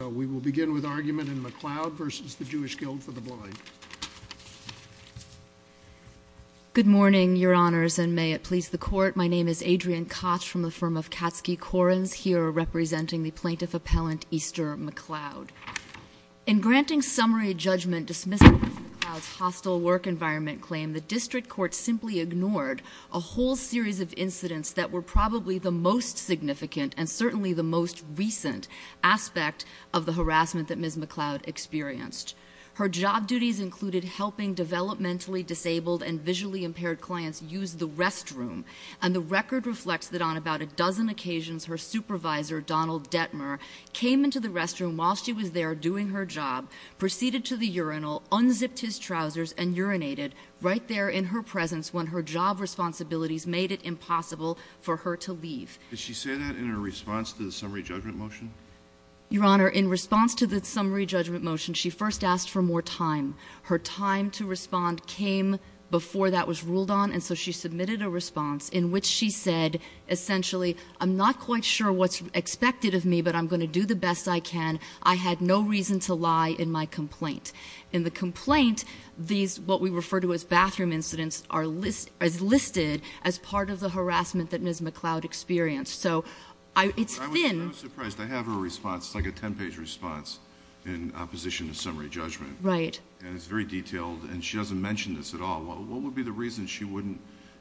Blind. We will begin with argument in McLeod v. the Jewish Guild for the Blind. Good morning, your honors, and may it please the court. My name is Adrienne Koch from the firm of Katsky Korins, here representing the plaintiff appellant Easter McLeod. In granting summary judgment dismissing McLeod's hostile work environment claim, the district court simply ignored a whole series of incidents that were probably the most significant and certainly the most recent aspect of the harassment that Ms. McLeod experienced. Her job duties included helping developmentally disabled and visually impaired clients use the restroom, and the record reflects that on about a dozen occasions her supervisor, Donald Detmer, came into the restroom while she was there doing her job, proceeded to the urinal, unzipped his trousers, and urinated right there in her presence when her job responsibilities made it impossible for her to leave. Did she say that in her response to the summary judgment motion? Your honor, in response to the summary judgment motion, she first asked for more time. Her time to respond came before that was ruled on, and so she submitted a response in which she said essentially, I'm not quite sure what's expected of me, but I'm going to do the best I can. I had no reason to lie in my complaint. In the complaint, these, what we refer to as bathroom incidents, are listed as part of the harassment that Ms. McLeod experienced. So it's thin. I was surprised. I have her response. It's like a 10-page response in opposition to summary judgment. Right. And it's very detailed, and she doesn't mention this at all. What would be the reason she wouldn't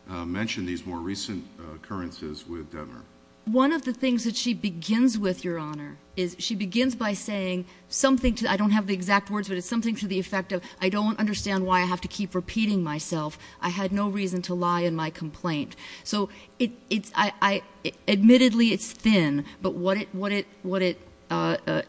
mention these more recent occurrences with Detmer? One of the things that she begins with, your honor, is she begins by saying something to the, I don't have the exact words, but it's something to the effect of, I don't understand why I have to keep repeating myself. I had no reason to lie in my complaint. So admittedly, it's thin, but what it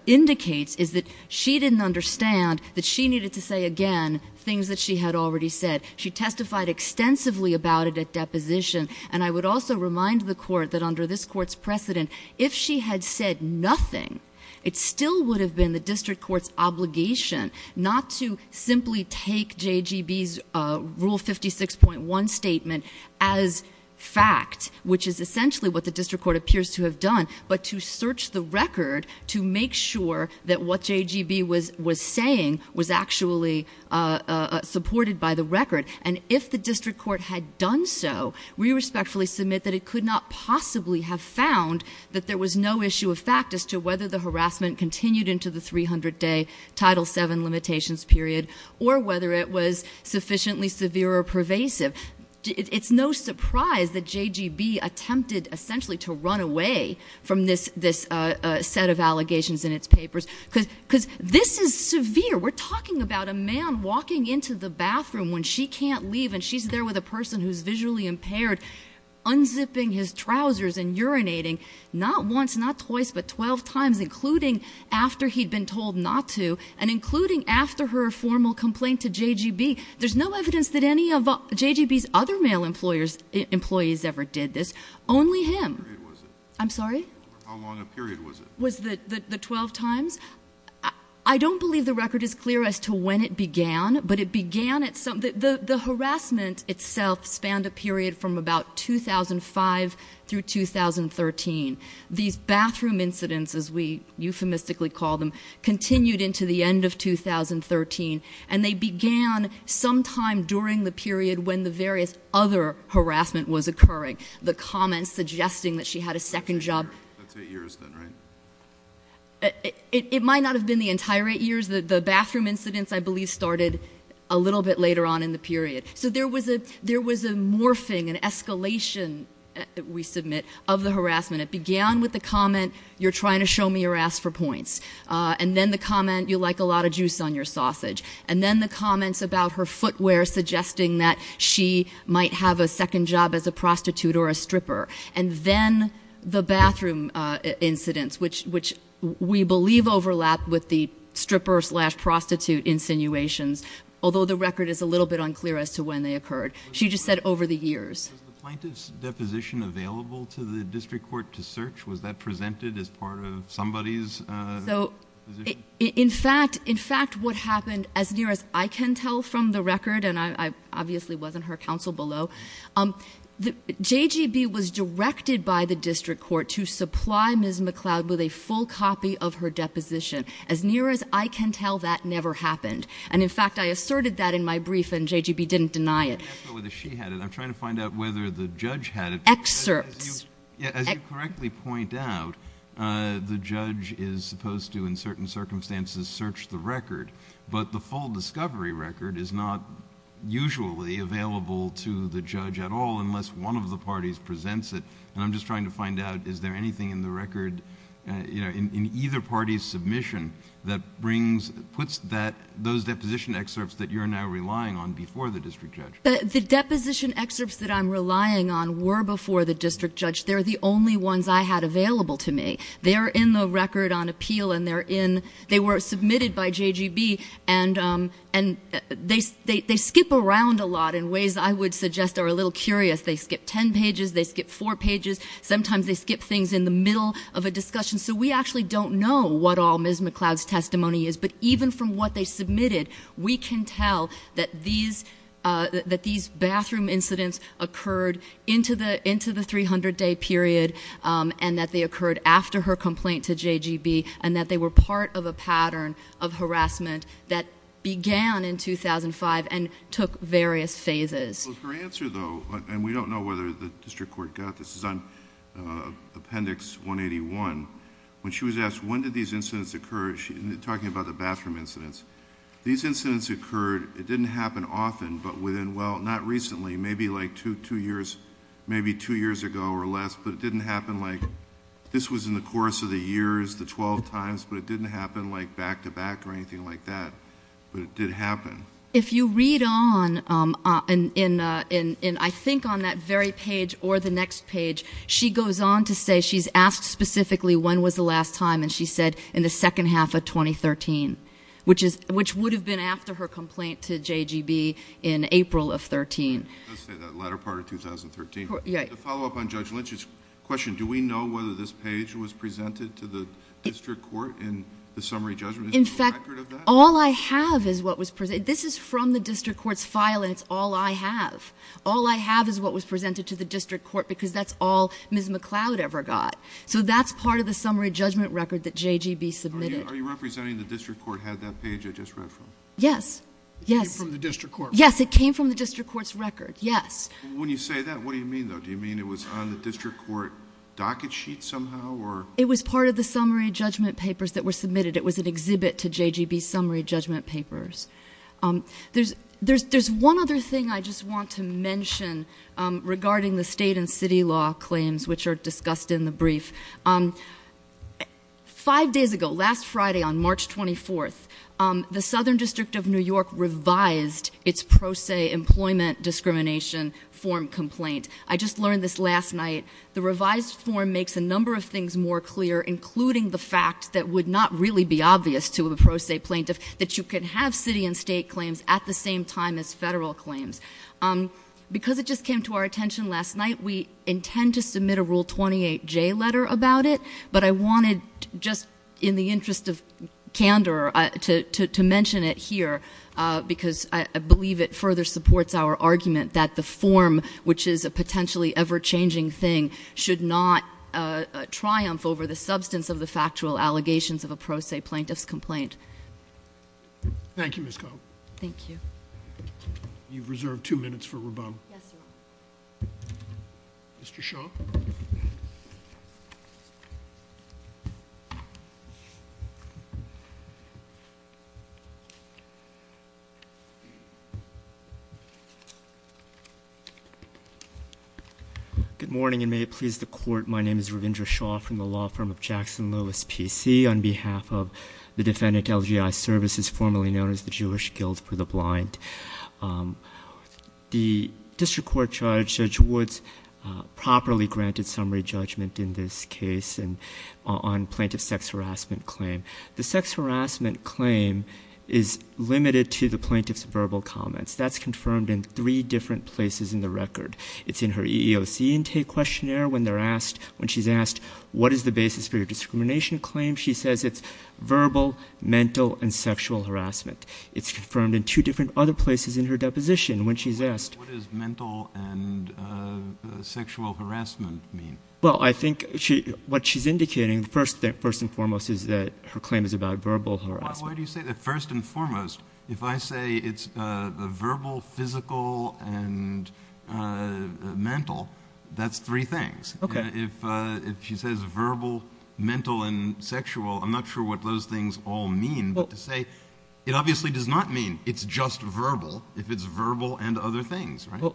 indicates is that she didn't understand that she needed to say again things that she had already said. She testified extensively about it at deposition, and I would also remind the Court that under this Court's precedent, if she had said nothing, it still would have been the district court's obligation not to simply take JGB's Rule 56.1 statement as fact, which is essentially what the district court appears to have done, but to search the record to make sure that what JGB was saying was actually supported by the record. And if the district court had done so, we respectfully submit that it could not possibly have found that there was no issue of fact as to whether the harassment continued into the 300-day Title VII limitations period, or whether it was sufficiently severe or pervasive. It's no surprise that JGB attempted essentially to run away from this set of allegations in its papers, because this is severe. We're talking about a man walking into the bathroom when she can't leave, and she's there with a person who's visually impaired, unzipping his trousers and urinating not once, not twice, but 12 times, including after he'd been told not to, and including after her formal complaint to JGB. There's no evidence that any of JGB's other male employees ever did this. Only him. I'm sorry? How long a period was it? Was the 12 times? I don't believe the record is clear as to when it began, but it began at some... The harassment itself spanned a period from about 2005 through 2013. These bathroom incidents, as we euphemistically call them, continued into the end of 2013, and they began sometime during the period when the various other harassment was occurring. The comments suggesting that she had a second job... That's eight years then, right? It might not have been the entire eight years. The bathroom incidents, I believe, started a little bit later on in the period. So there was a morphing, an escalation, we submit, of the harassment. It began with the comment, you're trying to show me your ass for points. And then the comment, you like a lot of juice on your sausage. And then the comments about her footwear suggesting that she might have a second job as a prostitute or a stripper. And then the bathroom incidents, which we believe overlapped with the stripper slash when they occurred. She just said over the years. Was the plaintiff's deposition available to the district court to search? Was that presented as part of somebody's position? In fact, what happened, as near as I can tell from the record, and I obviously wasn't her counsel below, JGB was directed by the district court to supply Ms. McLeod with a full copy of her deposition. As near as I can tell, that never happened. And in fact, I asserted that in my brief, and JGB didn't deny it. I'm not sure whether she had it. I'm trying to find out whether the judge had it. Excerpts. As you correctly point out, the judge is supposed to, in certain circumstances, search the record. But the full discovery record is not usually available to the judge at all, unless one of the parties presents it. And I'm just trying to find out, is there anything in the record, in either party's submission, that puts those deposition excerpts that you're now relying on before the district judge? The deposition excerpts that I'm relying on were before the district judge. They're the only ones I had available to me. They're in the record on appeal, and they were submitted by JGB, and they skip around a lot in ways I would suggest are a little curious. They skip ten pages, they skip four pages, sometimes they skip things in the middle of a discussion. So we actually don't know what all Ms. McCloud's testimony is, but even from what they submitted, we can tell that these bathroom incidents occurred into the 300-day period, and that they occurred after her complaint to JGB, and that they were part of a pattern of harassment that began in 2005 and took various phases. Her answer though, and we don't know whether the district court got this, is on Appendix 181, when she was asked when did these incidents occur, she's talking about the bathroom incidents. These incidents occurred, it didn't happen often, but within, well, not recently, maybe like two years ago or less, but it didn't happen like... this was in the course of the years, the twelve times, but it didn't happen like back-to-back or anything like that, but it did happen. If you read on, I think on that very page or the next page, she goes on to say she's asked specifically when was the last time, and she said, in the second half of 2013, which would have been after her complaint to JGB in April of 13. It does say that latter part of 2013. To follow up on Judge Lynch's question, do we know whether this page was presented to the district court in the summary judgment? Is there a record of that? All I have is what was... this is from the district court's file and it's all I have. All I have is what was presented to the district court because that's all Ms. McLeod ever got, so that's part of the summary judgment record that JGB submitted. Are you representing the district court had that page I just read from? Yes, yes. It came from the district court? Yes, it came from the district court's record, yes. When you say that, what do you mean though? Do you mean it was on the district court docket sheet somehow or... It was part of the summary judgment papers that were submitted. It was an exhibit to JGB's summary judgment papers. There's one other thing I just want to mention regarding the state and city law claims, which are discussed in the brief. Five days ago, last Friday on March 24th, the Southern District of New York revised its Pro Se Employment Discrimination form complaint. I just learned this last night. The revised form makes a number of things more clear, including the fact that would not really be obvious to a pro se plaintiff that you could have city and state claims at the same time as federal claims. Because it just came to our attention last night, we intend to submit a Rule 28J letter about it, but I wanted, just in the interest of candor, to mention it here because I believe it further supports our argument that the form, which is a potentially ever-changing thing, should not triumph over the substance of the factual allegations of a pro se plaintiff's complaint. Thank you, Ms. Cohn. Thank you. You've reserved two minutes for rebuttal. Yes, Your Honor. Mr. Shaw. Good morning, and may it please the Court. My name is Ravindra Shaw from the law firm of Jackson Lewis PC. On behalf of the Defendant LGI Services, formerly known as the Jewish Guild for the Blind, the plaintiff has granted summary judgment in this case on plaintiff's sex harassment claim. The sex harassment claim is limited to the plaintiff's verbal comments. That's confirmed in three different places in the record. It's in her EEOC intake questionnaire when they're asked, when she's asked, what is the basis for your discrimination claim? She says it's verbal, mental, and sexual harassment. It's confirmed in two different other places in her deposition when she's asked. What does mental and sexual harassment mean? Well, I think what she's indicating, first and foremost, is that her claim is about verbal harassment. Why do you say that? First and foremost, if I say it's verbal, physical, and mental, that's three things. Okay. If she says verbal, mental, and sexual, I'm not sure what those things all mean, but to Well,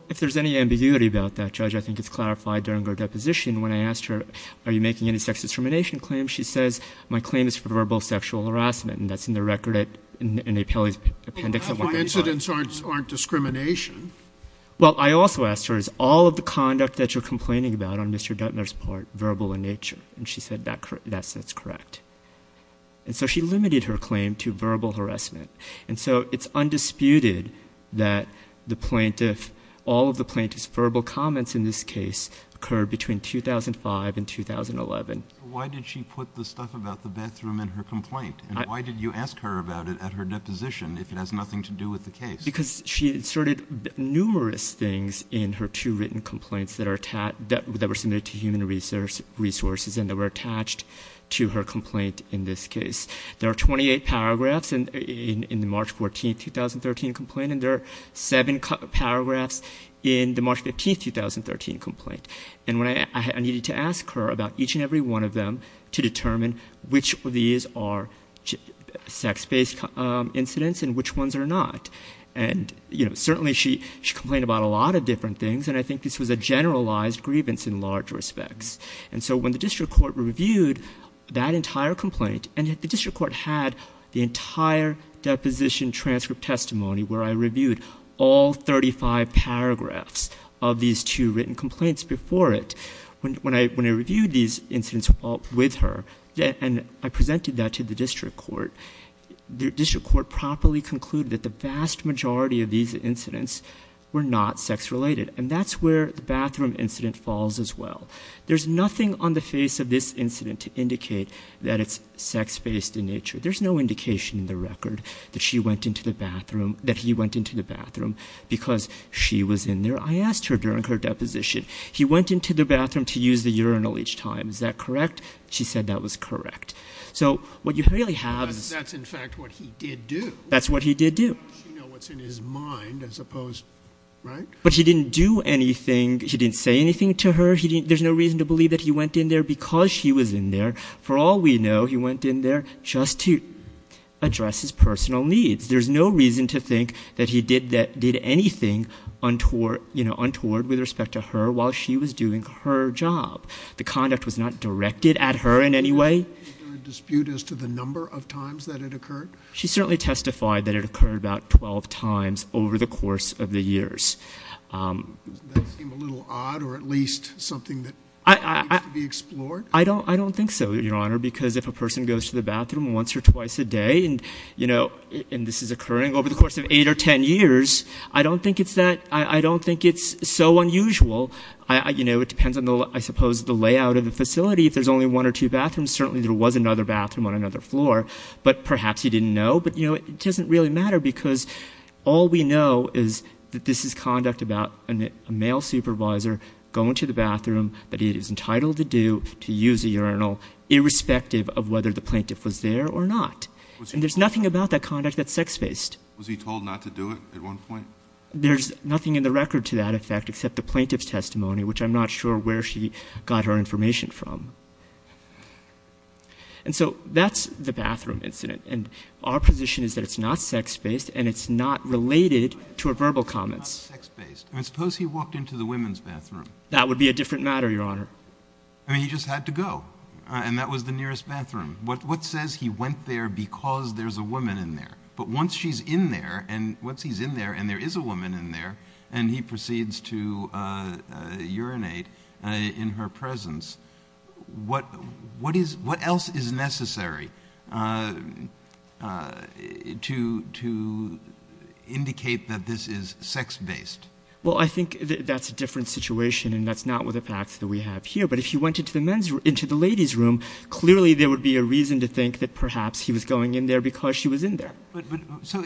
if there's any ambiguity about that, Judge, I think it's clarified during her deposition when I asked her, are you making any sex discrimination claims? She says, my claim is for verbal sexual harassment, and that's in the record in the appellee's appendix. Incidents aren't discrimination. Well, I also asked her, is all of the conduct that you're complaining about on Mr. Duttoner's part verbal in nature? She said that's correct. She limited her claim to verbal harassment. So it's undisputed that all of the plaintiff's verbal comments in this case occurred between 2005 and 2011. Why did she put the stuff about the bathroom in her complaint, and why did you ask her about it at her deposition if it has nothing to do with the case? Because she inserted numerous things in her two written complaints that were submitted to human resources and that were attached to her complaint in this case. There are 28 paragraphs in the March 14, 2013 complaint, and there are seven paragraphs in the March 15, 2013 complaint. And I needed to ask her about each and every one of them to determine which of these are sex-based incidents and which ones are not. And certainly she complained about a lot of different things, and I think this was a generalized grievance in large respects. And so when the district court reviewed that entire complaint, and the district court had the entire deposition transcript testimony where I reviewed all 35 paragraphs of these two written complaints before it, when I reviewed these incidents with her and I presented that to the district court, the district court properly concluded that the vast majority of these incidents were not sex-related. And that's where the bathroom incident falls as well. There's nothing on the face of this incident to indicate that it's sex-based in nature. There's no indication in the record that she went into the bathroom, that he went into the bathroom, because she was in there. I asked her during her deposition, he went into the bathroom to use the urinal each time. Is that correct? She said that was correct. So what you really have is... That's in fact what he did do. That's what he did do. She knows what's in his mind, as opposed, right? But he didn't do anything. He didn't say anything to her. He didn't, there's no reason to believe that he went in there because she was in there. For all we know, he went in there just to address his personal needs. There's no reason to think that he did anything untoward, you know, untoward with respect to her while she was doing her job. The conduct was not directed at her in any way. Is there a dispute as to the number of times that it occurred? She certainly testified that it occurred about 12 times over the course of the years. Does that seem a little odd or at least something that needs to be explored? I don't think so, Your Honor, because if a person goes to the bathroom once or twice a day and, you know, and this is occurring over the course of eight or ten years, I don't think it's that, I don't think it's so unusual. You know, it depends on, I suppose, the layout of the facility. If there's only one or two bathrooms, certainly there was another bathroom on another floor, but perhaps he didn't know. But, you know, it doesn't really matter because all we know is that this is conduct about a male supervisor going to the bathroom that he is entitled to do, to use a urinal, irrespective of whether the plaintiff was there or not. And there's nothing about that conduct that's sex-based. Was he told not to do it at one point? There's nothing in the record to that effect except the plaintiff's testimony, which I'm not sure where she got her information from. And so that's the bathroom incident. And our position is that it's not sex-based and it's not related to her verbal comments. I mean, suppose he walked into the women's bathroom. That would be a different matter, Your Honor. I mean, he just had to go. And that was the nearest bathroom. What says he went there because there's a woman in there? But once she's in there and once he's in there and there is a woman in there and he proceeds to urinate in her presence, what else is necessary to indicate that this is sex-based? Well, I think that's a different situation and that's not with the facts that we have here. But if he went into the ladies' room, clearly there would be a reason to think that perhaps he was going in there because she was in there. So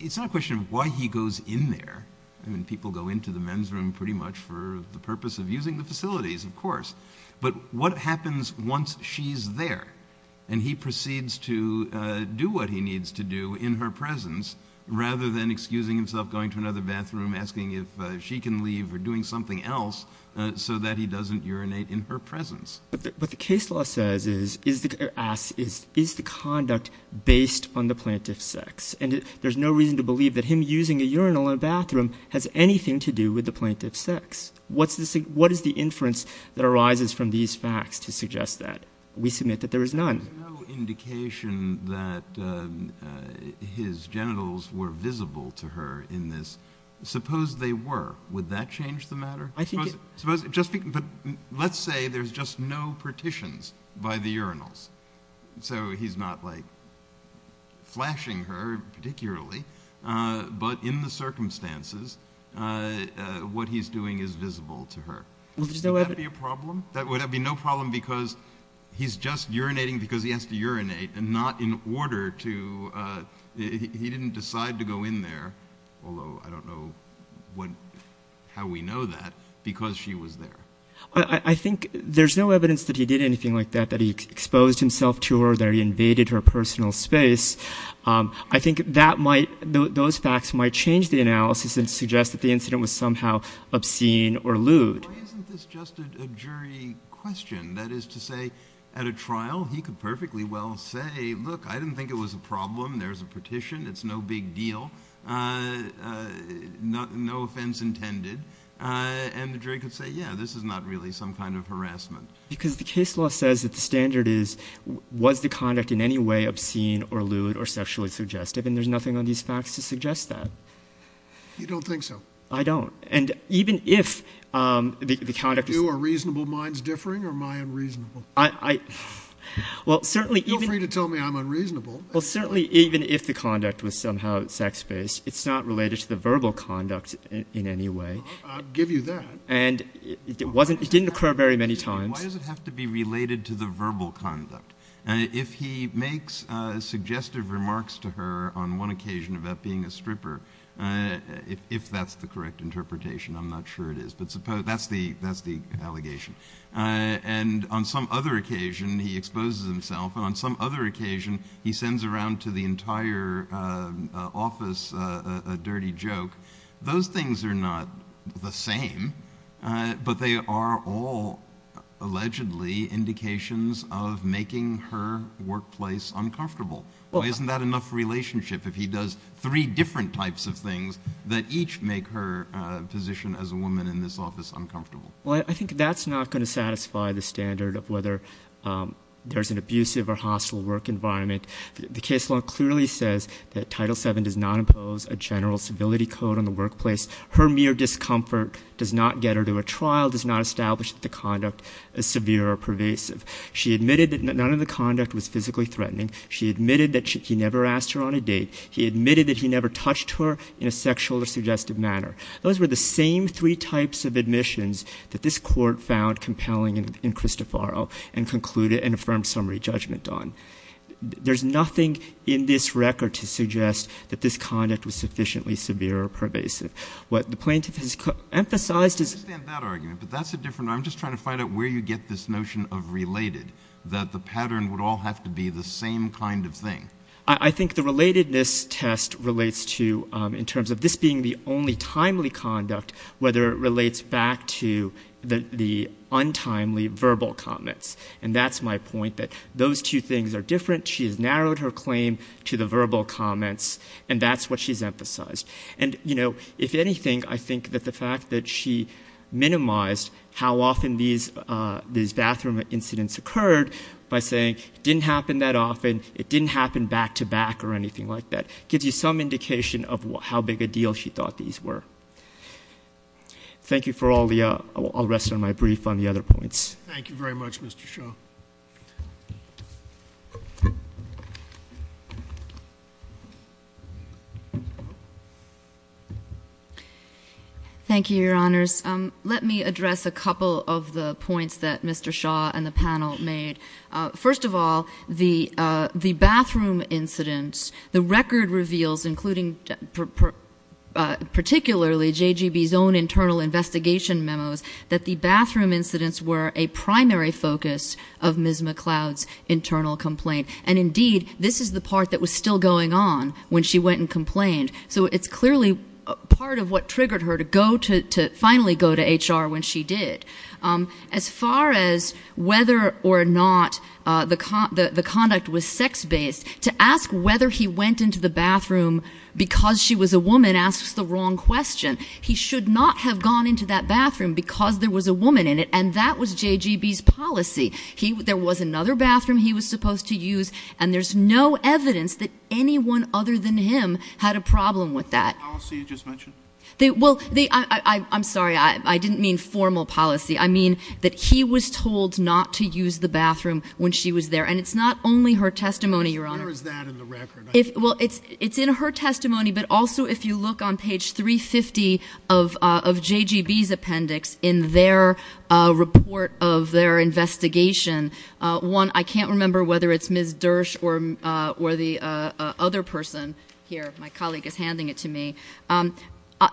it's not a question of why he goes in there. I mean, people go into the men's room pretty much for the purpose of using the facilities, of course. But what happens once she's there and he proceeds to do what he needs to do in her presence rather than excusing himself, going to another bathroom, asking if she can leave or doing something else so that he doesn't urinate in her presence? What the case law says is, asks, is the conduct based on the plaintiff's sex? And there's no reason to believe that him using a urinal in a bathroom has anything to do with the plaintiff's sex. What is the inference that arises from these facts to suggest that? We submit that there is none. There's no indication that his genitals were visible to her in this. Suppose they were. Would that change the matter? Let's say there's just no partitions by the urinals. So he's not like flashing her particularly, but in the circumstances, what he's doing is visible to her. Would that be a problem? That would be no problem because he's just urinating because he has to urinate and not in order to... He didn't decide to go in there, although I don't know how we know that, because she was there. I think there's no evidence that he did anything like that, that he exposed himself to her, that he invaded her personal space. I think those facts might change the analysis and suggest that the incident was somehow obscene or lewd. Why isn't this just a jury question? That is to say, at a trial, he could perfectly well say, look, I didn't think it was a problem. There's a partition. It's no big deal. No offense intended. And the jury could say, yeah, this is not really some kind of harassment. Because the case law says that the standard is, was the conduct in any way obscene or lewd or sexually suggestive? And there's nothing on these facts to suggest that. You don't think so? I don't. And even if the conduct... Are reasonable minds differing or am I unreasonable? Well certainly... Feel free to tell me I'm unreasonable. Well certainly, even if the conduct was somehow sex-based, it's not related to the verbal conduct in any way. I'll give you that. And it didn't occur very many times. Why does it have to be related to the verbal conduct? If he makes suggestive remarks to her on one occasion about being a stripper, if that's the correct interpretation, I'm not sure it is. But suppose, that's the allegation. And on some other occasion, he exposes himself. And on some other occasion, he sends around to the entire office a dirty joke. Those things are not the same. But they are all, allegedly, indications of making her workplace uncomfortable. Why isn't that enough relationship if he does three different types of things that each make her position as a woman in this office uncomfortable? Well, I think that's not going to satisfy the standard of whether there's an abusive or hostile work environment. The case law clearly says that Title VII does not impose a general civility code on the workplace. Her mere discomfort does not get her to a trial, does not establish that the conduct is severe or pervasive. She admitted that none of the conduct was physically threatening. She admitted that he never asked her on a date. He admitted that he never touched her in a sexual or suggestive manner. Those were the same three types of admissions that this court found compelling in Cristoforo and concluded and affirmed summary judgment on. There's nothing in this record to suggest that this conduct was sufficiently severe or pervasive. What the plaintiff has emphasized is — I understand that argument, but that's a different — I'm just trying to find out where you get this notion of related, that the pattern would all have to be the same kind of thing. I think the relatedness test relates to, in terms of this being the only timely conduct, whether it relates back to the untimely verbal comments. And that's my point, that those two things are different. She has narrowed her claim to the verbal comments, and that's what she's emphasized. And you know, if anything, I think that the fact that she minimized how often these bathroom incidents occurred by saying, it didn't happen that often, it didn't happen back-to-back or anything like that, gives you some indication of how big a deal she thought these were. Thank you for all the — I'll rest on my brief on the other points. Thank you very much, Mr. Shaw. Thank you, Your Honors. Let me address a couple of the points that Mr. Shaw and the panel made. First of all, the bathroom incidents, the record reveals, including particularly JGB's own internal investigation memos, that the bathroom incidents were a primary focus of Ms. McLeod's internal complaint. And indeed, this is the part that was still going on when she went and complained. So it's clearly part of what triggered her to finally go to HR when she did. As far as whether or not the conduct was sex-based, to ask whether he went into the bathroom because she was a woman asks the wrong question. He should not have gone into that bathroom because there was a woman in it, and that was JGB's policy. There was another bathroom he was supposed to use, and there's no evidence that anyone other than him had a problem with that. The policy you just mentioned? Well, I'm sorry. I didn't mean formal policy. I mean that he was told not to use the bathroom when she was there. And it's not only her testimony, Your Honor. Where is that in the record? Well, it's in her testimony, but also if you look on page 350 of JGB's appendix in their report of their investigation, one — I can't remember whether it's Ms. Dersh or the other person here. My colleague is handing it to me.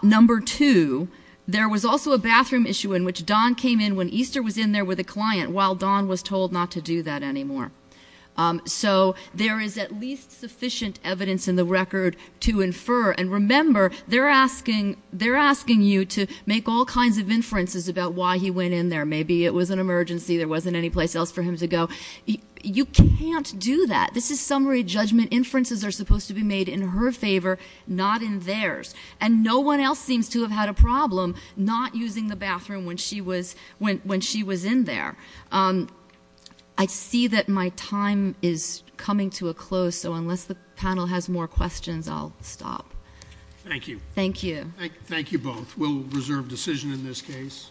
Number two, there was also a bathroom issue in which Don came in when Easter was in there with a client while Don was told not to do that anymore. So there is at least sufficient evidence in the record to infer. And remember, they're asking you to make all kinds of inferences about why he went in there. Maybe it was an emergency, there wasn't any place else for him to go. You can't do that. This is summary judgment. Inferences are supposed to be made in her favor, not in theirs. And no one else seems to have had a problem not using the bathroom when she was in there. I see that my time is coming to a close, so unless the panel has more questions, I'll stop. Thank you. Thank you. Thank you both. We'll reserve decision in this case.